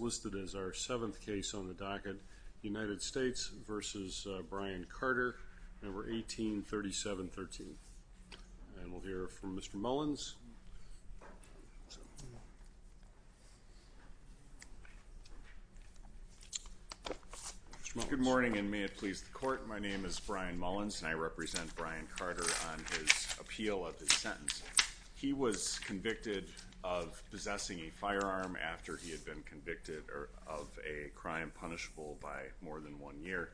listed as our 7th case on the docket, United States v. Brian Carter, No. 183713. And we'll hear from Mr. Mullins. Good morning and may it please the court, my name is Brian Mullins and I represent Brian Carter on his appeal of his sentence. He was convicted of possessing a firearm after he had been convicted of a crime punishable by more than one year.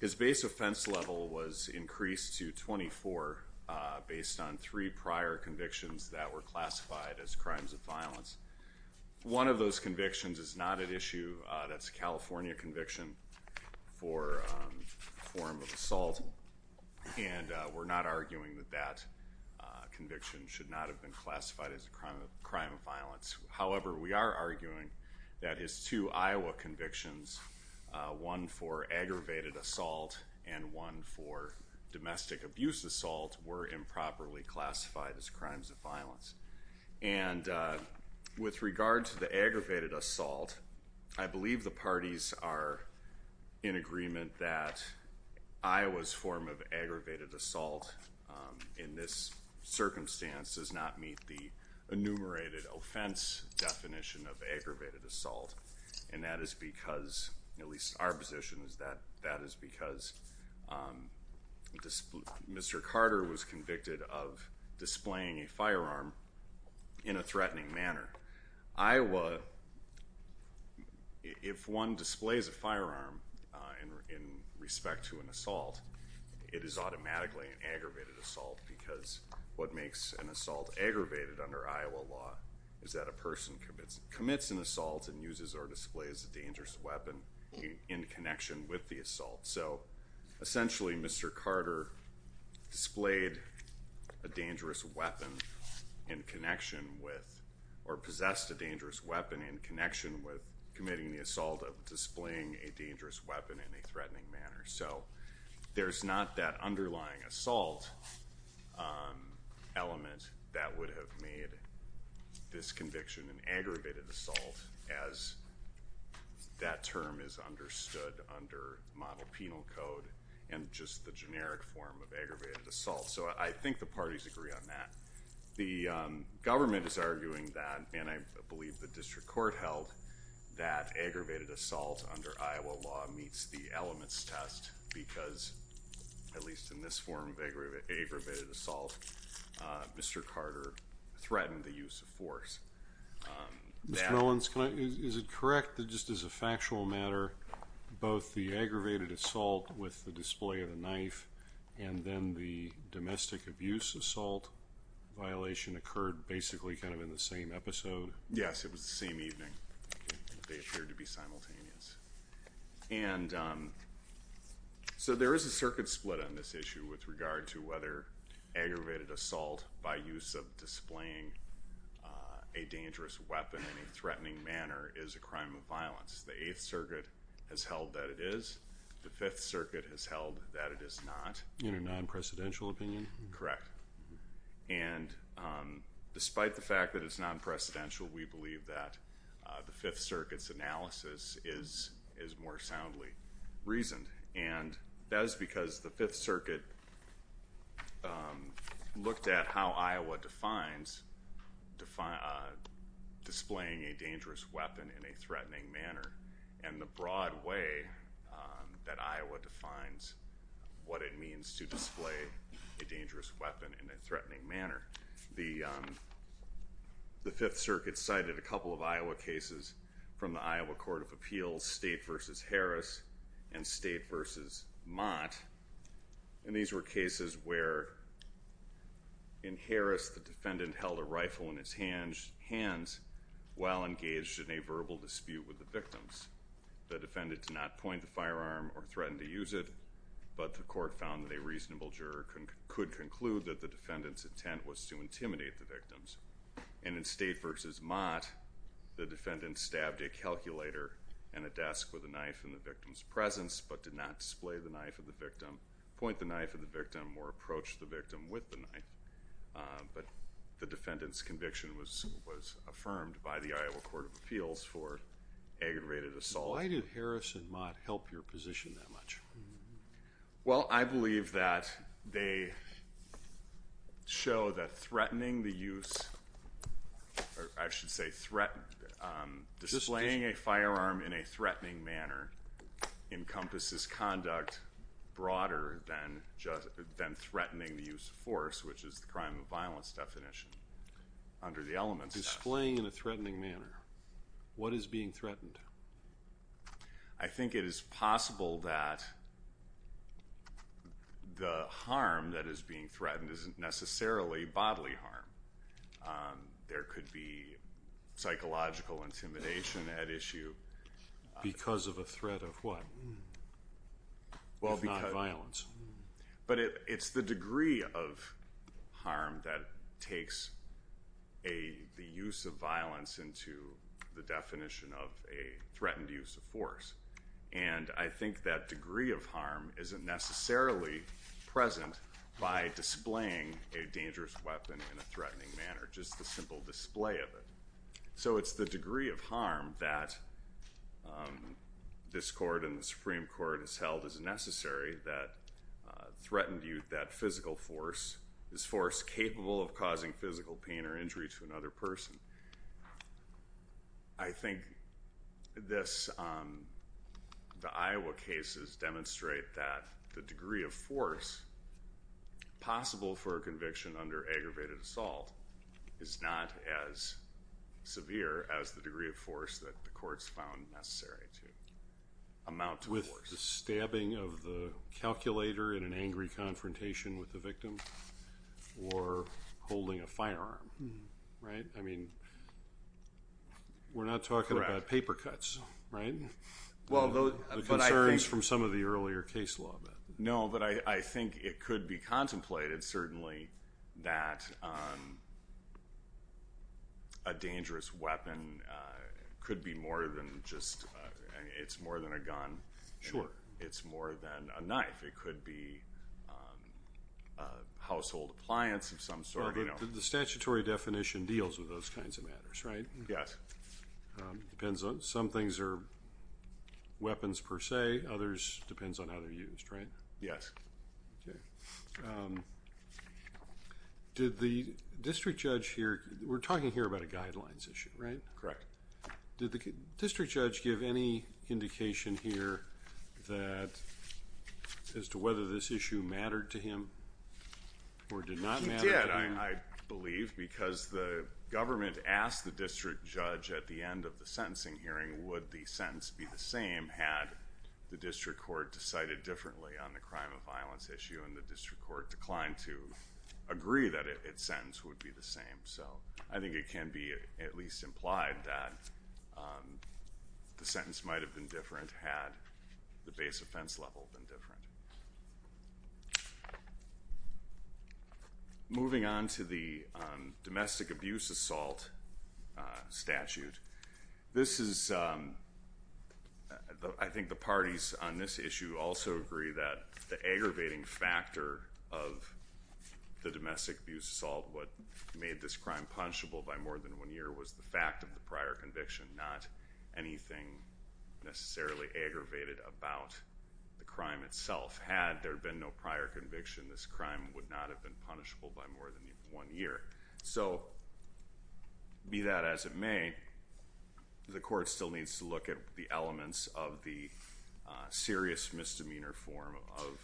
His base offense level was increased to 24 based on three prior convictions that were classified as crimes of violence. One of those convictions is not at issue, that's a California conviction for a form of assault and we're not arguing that that conviction should not have been classified as a crime of violence. However, we are arguing that his two Iowa convictions, one for aggravated assault and one for domestic abuse assault, were improperly classified as crimes of violence. And with regard to the aggravated assault, I believe the parties are in agreement that Iowa's form of aggravated assault in this circumstance does not meet the enumerated offense definition of aggravated assault and that is because, at least our position is that, that is because Mr. Carter was convicted of displaying a firearm in a threatening manner. Iowa, if one displays a firearm in respect to an assault, it is aggravated under Iowa law, is that a person commits an assault and uses or displays a dangerous weapon in connection with the assault. So, essentially Mr. Carter displayed a dangerous weapon in connection with, or possessed a dangerous weapon in connection with committing the assault of displaying a dangerous weapon in a threatening manner. So, there's not that would have made this conviction an aggravated assault as that term is understood under model penal code and just the generic form of aggravated assault. So, I think the parties agree on that. The government is arguing that, and I believe the district court held, that aggravated assault under Iowa law meets the elements test because, at least in this form of aggravated assault, Mr. Carter threatened the use of force. Mr. Mullins, is it correct that just as a factual matter, both the aggravated assault with the display of the knife and then the domestic abuse assault violation occurred basically kind of in the same episode? Yes, it was the same evening. They appeared to be simultaneous. And, so there is a circuit split on this issue with regard to whether aggravated assault by use of displaying a dangerous weapon in a threatening manner is a crime of violence. The 8th Circuit has held that it is. The 5th Circuit has held that it is not. In a non-precedential opinion? Correct. And, despite the fact that it's non-precedential, we believe that the 5th Circuit looked at how Iowa defines displaying a dangerous weapon in a threatening manner and the broad way that Iowa defines what it means to display a dangerous weapon in a threatening manner. The 5th Circuit cited a couple of Iowa cases from the Iowa Court of Appeals, State v. Harris and State v. Mott. And, these were cases where in Harris the defendant held a rifle in his hands while engaged in a verbal dispute with the victims. The defendant did not point the firearm or threaten to use it, but the court found that a reasonable juror could conclude that the defendant's intent was to intimidate the victims. And, in State v. Mott, the defendant stabbed a calculator and a desk with a knife in the victim's presence, but did not display the knife of the victim, point the knife at the victim, or approach the victim with the knife. But, the defendant's conviction was affirmed by the Iowa Court of Appeals for aggravated assault. Why did Harris and Mott help your position that much? Well, I believe that they show that threatening the use, or I should say, displaying a firearm in a threatening manner encompasses conduct broader than threatening the use of force, which is the crime of violence definition under the Elements Act. Displaying in a threatening manner. What is being threatened? I think it is possible that the harm that is being threatened isn't necessarily bodily harm. There could be psychological intimidation at issue. Because of a threat of what, if not violence? But, it's the degree of harm that takes the use of violence into the definition of a threatened use of force. And, I think that degree of harm isn't necessarily present by displaying a dangerous weapon in a threatening manner. Just a simple display of it. So, it's the degree of harm that this Court and the Supreme Court has held as necessary that threatened you, that physical force, is force capable of causing physical pain or injury to another person. I think this, the Iowa cases demonstrate that the degree of force possible for a conviction under aggravated assault is not as severe as the degree of force that the courts found necessary to amount to force. With the stabbing of the firearm, right? I mean, we're not talking about paper cuts, right? The concerns from some of the earlier case law. No, but I think it could be contemplated, certainly, that a dangerous weapon could be more than just, it's more than a gun. It's more than a knife. It could be a household appliance of some sort. The statutory definition deals with those kinds of matters, right? Yes. Depends on, some things are weapons per se, others, depends on how they're used, right? Yes. Did the district judge here, we're talking here about a guidelines issue, right? Correct. Did the district judge give any indication here that, as to whether this issue mattered to him or did not matter to him? He did, I believe, because the government asked the district judge at the end of the sentencing hearing, would the sentence be the same had the district court decided differently on the crime of violence issue and the district court declined to the sentence might have been different had the base offense level been different. Moving on to the domestic abuse assault statute, this is, I think the parties on this issue also agree that the aggravating factor of the domestic abuse assault, what made this crime punishable by more than one year was the fact of the prior conviction, not anything necessarily aggravated about the crime itself. Had there been no prior conviction, this crime would not have been punishable by more than one year. So, be that as it may, the court still needs to look at the elements of the serious misdemeanor form of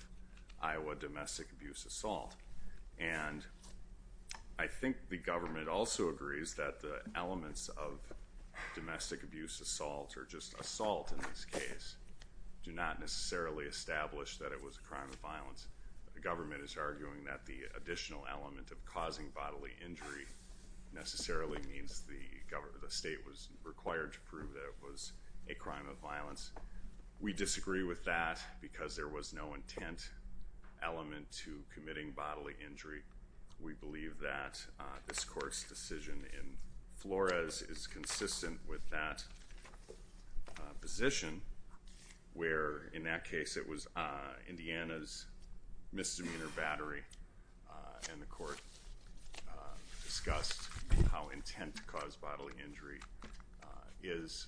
Iowa domestic abuse assault, and I think the government also agrees that the elements of domestic abuse assault, or just assault in this case, do not necessarily establish that it was a crime of violence. The government is arguing that the additional element of causing bodily injury necessarily means the government, the state, was required to prove that it was a crime of violence. We disagree with that because there was no intent element to committing bodily injury. We believe that this court's decision in Flores is consistent with that position, where in that case it was Indiana's misdemeanor battery, and the court discussed how intent to cause bodily injury is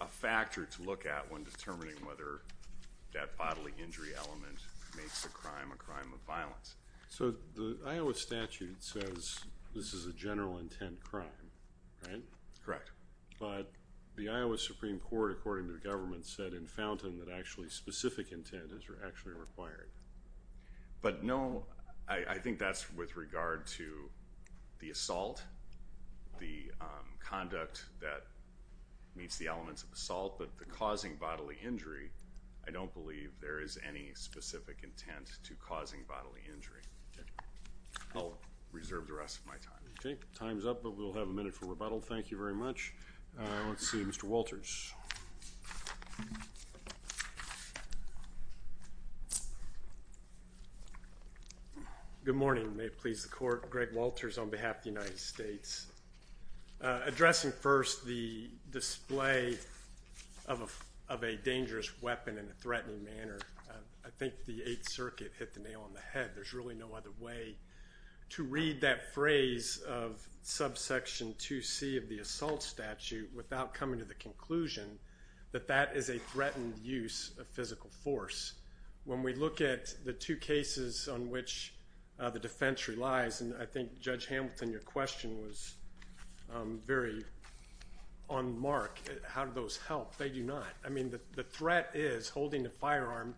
a factor to look at when determining whether that bodily injury element makes a crime a crime of violence. So, the Iowa statute says this is a general intent crime, right? Correct. But the Iowa Supreme Court, according to the government, said in Fountain that actually specific intent is actually required. But no, I think that's with regard to the assault, the conduct that meets the elements of assault, but the causing bodily injury, I don't believe there is any specific intent to causing bodily injury. I'll reserve the rest of my time. Okay, time's up, but we'll have a minute for rebuttal. Thank you very much. Let's see, Mr. Walters. Good morning, may it please the court. Greg Walters, on behalf of the United States. Addressing first the display of a dangerous weapon in a threatening manner, I think the Eighth Circuit hit the nail on the head. There's really no other way to read that phrase of subsection 2c of the assault statute without coming to the conclusion that that is a threatened use of physical force. When we look at the two cases on which the defense relies, and I think Judge Hamilton, your question was very on mark, how do those help? They do not. I mean, the threat is holding a firearm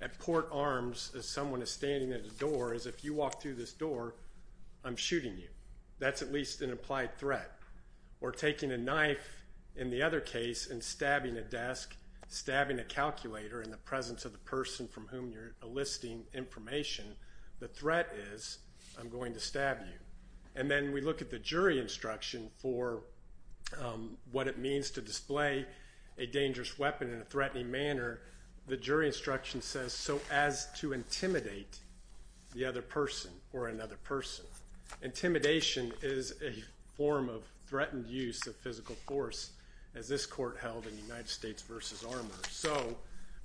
at port arms as someone is standing at a door as if you walk through this door, I'm shooting you. That's at least an implied threat. Or taking a knife, in the other case, and stabbing a desk, stabbing a calculator in the presence of the person from whom you're enlisting information, the threat is I'm going to stab you. And then we look at the jury instruction for what it means to display a dangerous weapon in a threatening manner. The jury instruction says so as to intimidate the other person or another person. Intimidation is a form of threatened use of physical force as this court held in United States v. Armour. So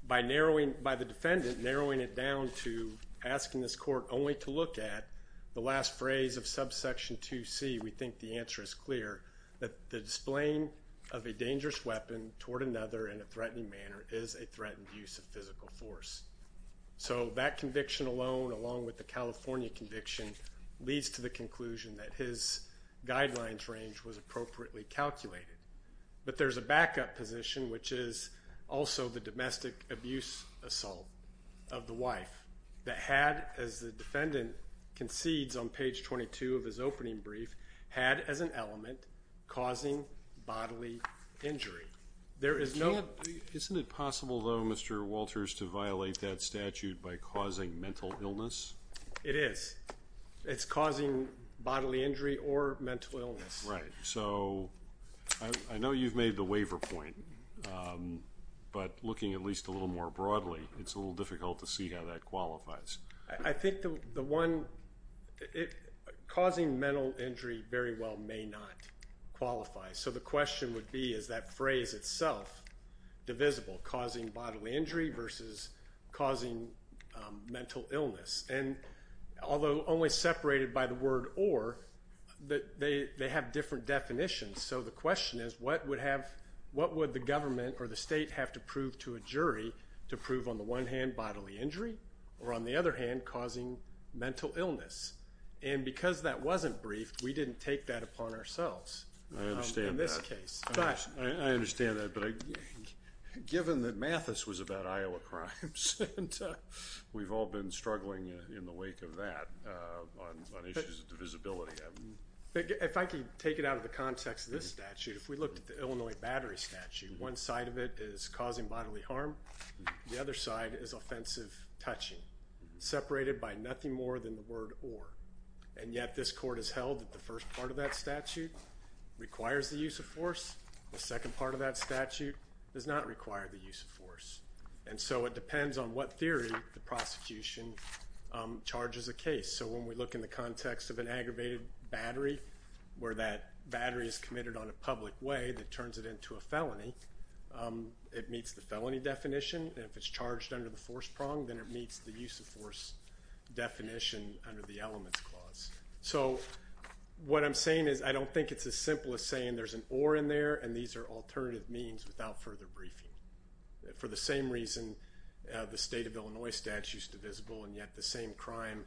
by the defendant narrowing it down to asking this court only to look at the last phrase of subsection 2C, we think the answer is clear, that the displaying of a dangerous weapon toward another in a threatening manner is a threatened use of physical force. So that conviction alone, along with the California conviction, leads to the conclusion that his guidelines range was appropriately calculated. But there's a backup position, which is also the domestic abuse assault of the wife that had, as the defendant concedes on page 22 of his opening brief, had as an element causing bodily injury. There is no... Isn't it possible though, Mr. Walters, to violate that statute by causing bodily injury or mental illness? Right. So I know you've made the waiver point, but looking at least a little more broadly, it's a little difficult to see how that qualifies. I think the one... Causing mental injury very well may not qualify. So the question would be, is that only separated by the word or, that they have different definitions. So the question is, what would have... What would the government or the state have to prove to a jury to prove on the one hand bodily injury or on the other hand causing mental illness? And because that wasn't briefed, we didn't take that upon ourselves in this case. I understand that, but given that Mathis was about to speak of that on issues of divisibility... If I can take it out of the context of this statute, if we looked at the Illinois battery statute, one side of it is causing bodily harm, the other side is offensive touching, separated by nothing more than the word or. And yet this court has held that the first part of that statute requires the use of force. The second part of that statute does not require the use of force. And so it depends on what theory the prosecution charges a case. So when we look in the context of an aggravated battery, where that battery is committed on a public way that turns it into a felony, it meets the felony definition. And if it's charged under the force prong, then it meets the use of force definition under the elements clause. So what I'm saying is, I don't think it's as simple as saying there's an or in there and these are alternative means without further briefing. For the same reason the state of Illinois statute is divisible and yet the same crime,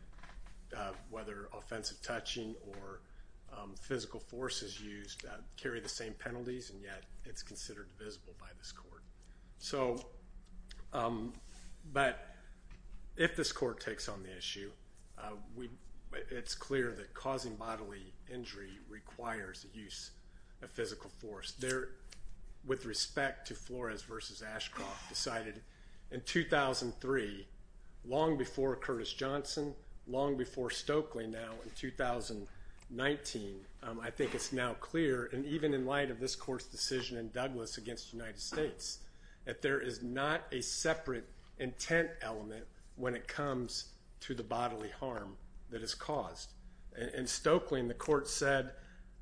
whether offensive touching or physical force is used, carry the same penalties and yet it's considered divisible by this court. But if this court takes on the issue, it's clear that Flores v. Ashcroft decided in 2003, long before Curtis Johnson, long before Stokely now in 2019, I think it's now clear, and even in light of this court's decision in Douglas against the United States, that there is not a separate intent element when it comes to the bodily harm that In Stokely, the court said,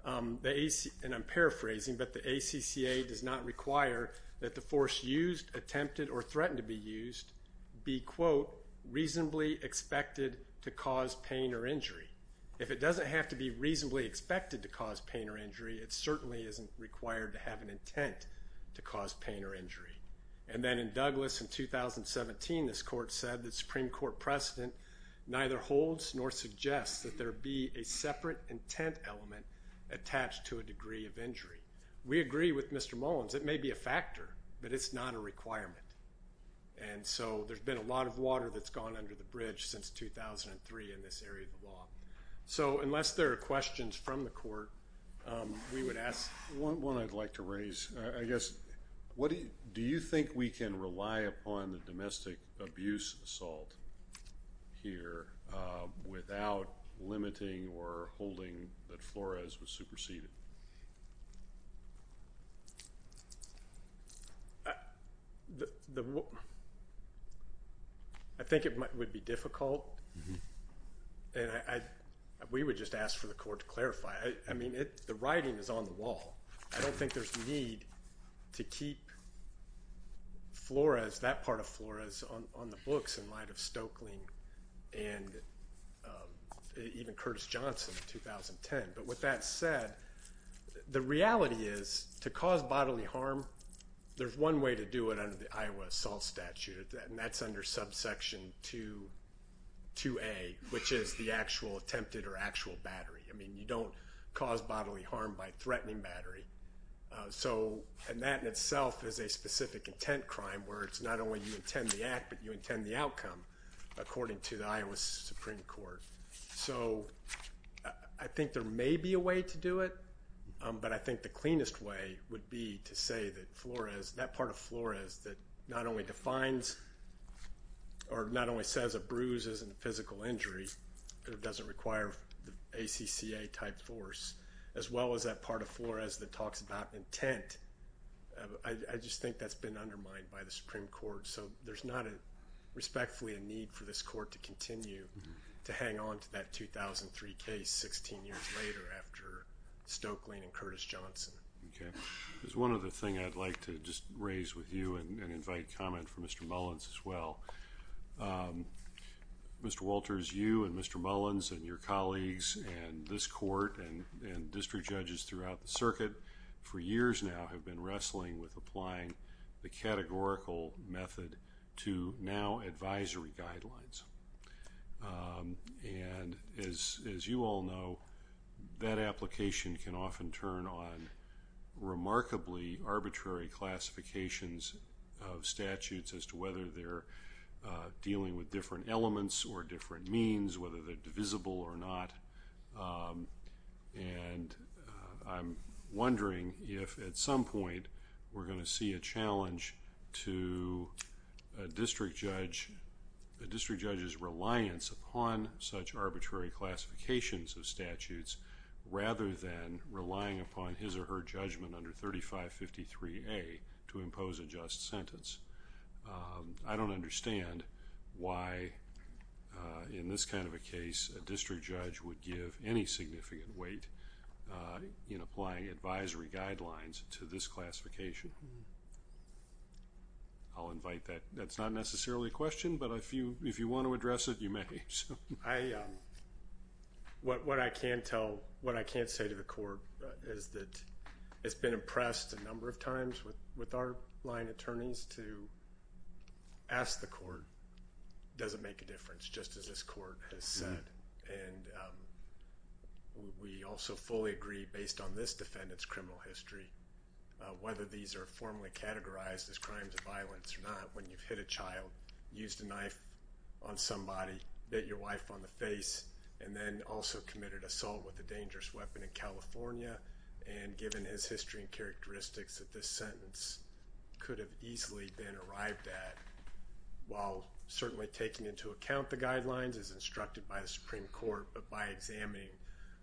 and I'm paraphrasing, but the ACCA does not require that the force used, attempted, or threatened to be used be, quote, reasonably expected to cause pain or injury. If it doesn't have to be reasonably expected to cause pain or injury, it certainly isn't required to have an intent to cause pain or injury. And then in Douglas in 2017, this court said that Supreme Court holds nor suggests that there be a separate intent element attached to a degree of injury. We agree with Mr. Mullins, it may be a factor, but it's not a requirement. And so there's been a lot of water that's gone under the bridge since 2003 in this area of the law. So unless there are questions from the court, we would ask. One I'd like to raise, I guess, do you think we can rely upon the domestic abuse assault here without limiting or holding that Flores was superseded? I think it would be difficult, and we would just ask for the court to clarify. I mean, the writing is on the wall. I don't think there's need to keep Flores, that part of Flores, on the books in light of Stokely and even Curtis Johnson in 2010. But with that said, the reality is to cause bodily harm, there's one way to do it under the Iowa assault statute, and that's under subsection 2A, which is the actual attempted or actual battery. I mean, you don't cause bodily harm by threatening battery. And that in itself is a specific intent crime, where it's not only you intend the act, but you intend the outcome, according to the Iowa Supreme Court. So I think there may be a way to do it, but I think the cleanest way would be to say that Flores, that part of Flores that not only defines or not only says a bruise isn't a physical injury, it doesn't require the ACCA type force, as well as that part of Flores that talks about intent, I just think that's been undermined by the Supreme Court. So there's not a respectfully a need for this court to continue to hang on to that 2003 case 16 years later after Stokely and Curtis Johnson. Okay. There's one other thing I'd like to just raise with you and invite comment from Mr. Mullins as well. Mr. Walters, you and Mr. Mullins and your colleagues and this court and district judges throughout the circuit for years now have been wrestling with applying the categorical method to now advisory guidelines. And as you all know, that application can often turn on remarkably arbitrary classifications of statutes as to whether they're dealing with different elements or different means, whether they're divisible or not. And I'm wondering if at some point we're going to see a challenge to a district judge's reliance upon such arbitrary classifications of statutes rather than relying upon his or her judgment under 3553A to impose a just sentence. I don't understand why in this kind of a case a district judge would give any significant weight in applying advisory guidelines to this classification. I'll invite that. That's not necessarily a question, but if you want to address it, you may. What I can't tell, what I can't say to the court is that it's been impressed a number of times with our line attorneys to ask the court, does it make a difference? Just as this court has said. And we also fully agree based on this defendant's criminal history, whether these are formally categorized as crimes of violence or not, when you've hit a child, used a knife on somebody, bit your wife on the face, and then also committed assault with a dangerous weapon in California. And given his history and characteristics, that this sentence could have easily been arrived at. While certainly taking into account the guidelines as instructed by the Supreme Court, but by examining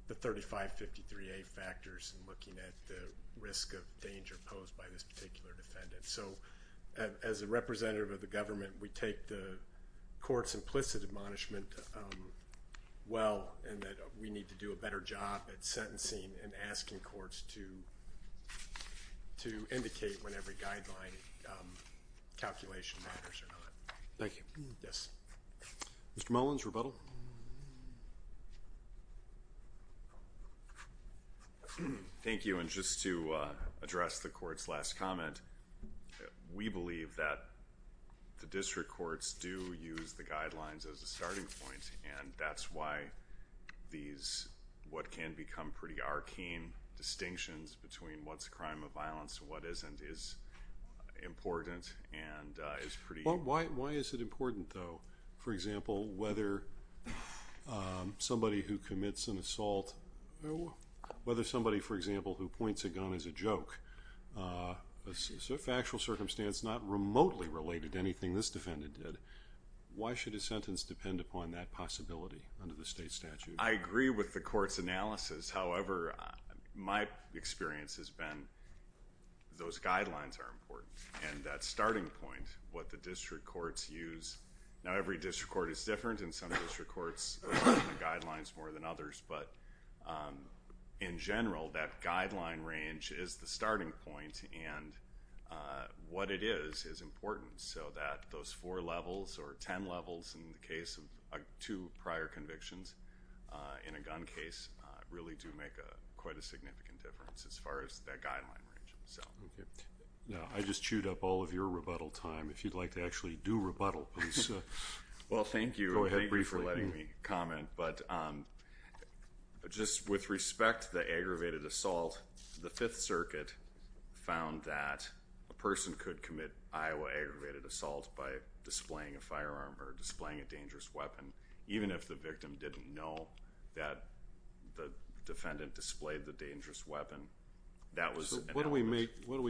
the 3553A factors and looking at the risk of danger posed by this particular defendant. So as a representative of the government, we take the court's implicit admonishment well in that we need to do a better job at sentencing and asking courts to indicate when every guideline calculation matters or not. Thank you. Yes. Mr. Mullins, rebuttal. Thank you. And just to address the court's last comment, we believe that the district courts do use the guidelines as a starting point. And that's why these, what can become pretty arcane distinctions between what's a crime of violence and what isn't, is important and is pretty... Why is it important, though? For example, whether somebody who commits an assault, whether somebody, for example, who points a gun as a joke, if actual circumstance not remotely related to anything this defendant did, why should a sentence depend upon that possibility under the state statute? I agree with the court's analysis. However, my experience has been those guidelines are important. And that starting point, what the district courts use... Now, every district court is different, and some district courts rely on the guidelines more than others. But in general, that guideline range is the starting point. And what it is, is important so that those four levels or 10 levels in the case of two prior convictions in a gun case really do make quite a difference. Well, thank you for letting me comment. But just with respect to the aggravated assault, the Fifth Circuit found that a person could commit Iowa aggravated assault by displaying a firearm or displaying a dangerous weapon, even if the victim didn't know that the defendant displayed the dangerous weapon. That was... What do we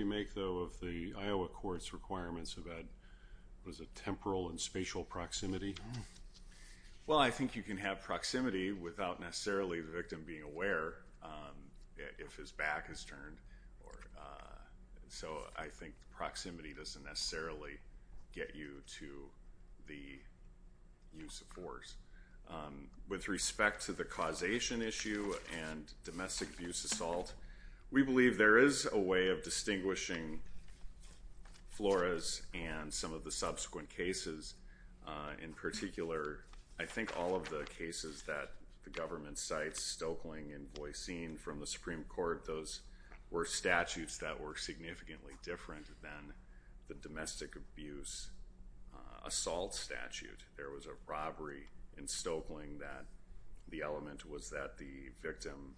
make, though, of the Iowa court's requirements about, what is it, temporal and spatial proximity? Well, I think you can have proximity without necessarily the victim being aware if his back is turned. So I think proximity doesn't necessarily get you to the use of force. With respect to the causation issue and domestic abuse assault, we believe there is a way of distinguishing Flores and some of the subsequent cases. In particular, I think all of the cases that the government cites, Stoeckling and Voisin from the Supreme Court, those were statutes that significantly different than the domestic abuse assault statute. There was a robbery in Stoeckling that the element was that the victim,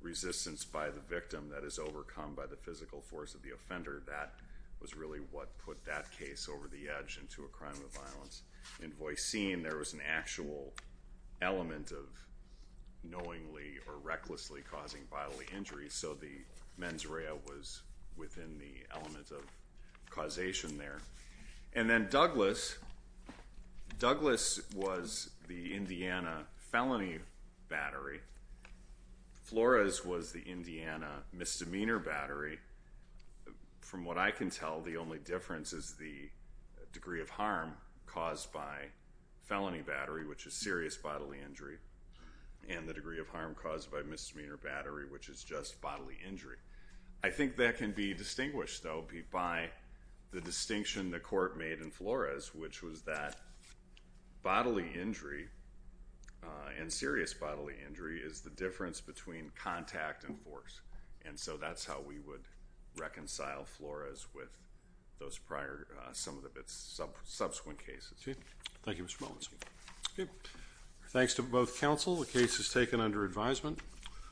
resistance by the victim that is overcome by the physical force of the offender, that was really what put that case over the edge into a crime of violence. In Voisin, there was an actual element of knowingly or recklessly causing bodily injury. So the mens rea was within the element of causation there. And then Douglas, Douglas was the Indiana felony battery. Flores was the Indiana misdemeanor battery. From what I can tell, the only difference is the degree of harm caused by felony battery, which is serious bodily injury, and the degree of harm caused by misdemeanor battery, which is just bodily injury. I think that can be distinguished, though, by the distinction the court made in Flores, which was that bodily injury and serious bodily injury is the difference between contact and force. And so that's how we would reconcile Flores with those prior, some of the subsequent cases. Thank you, Mr. Mullins. Thanks to both counsel. The case is taken under advisement.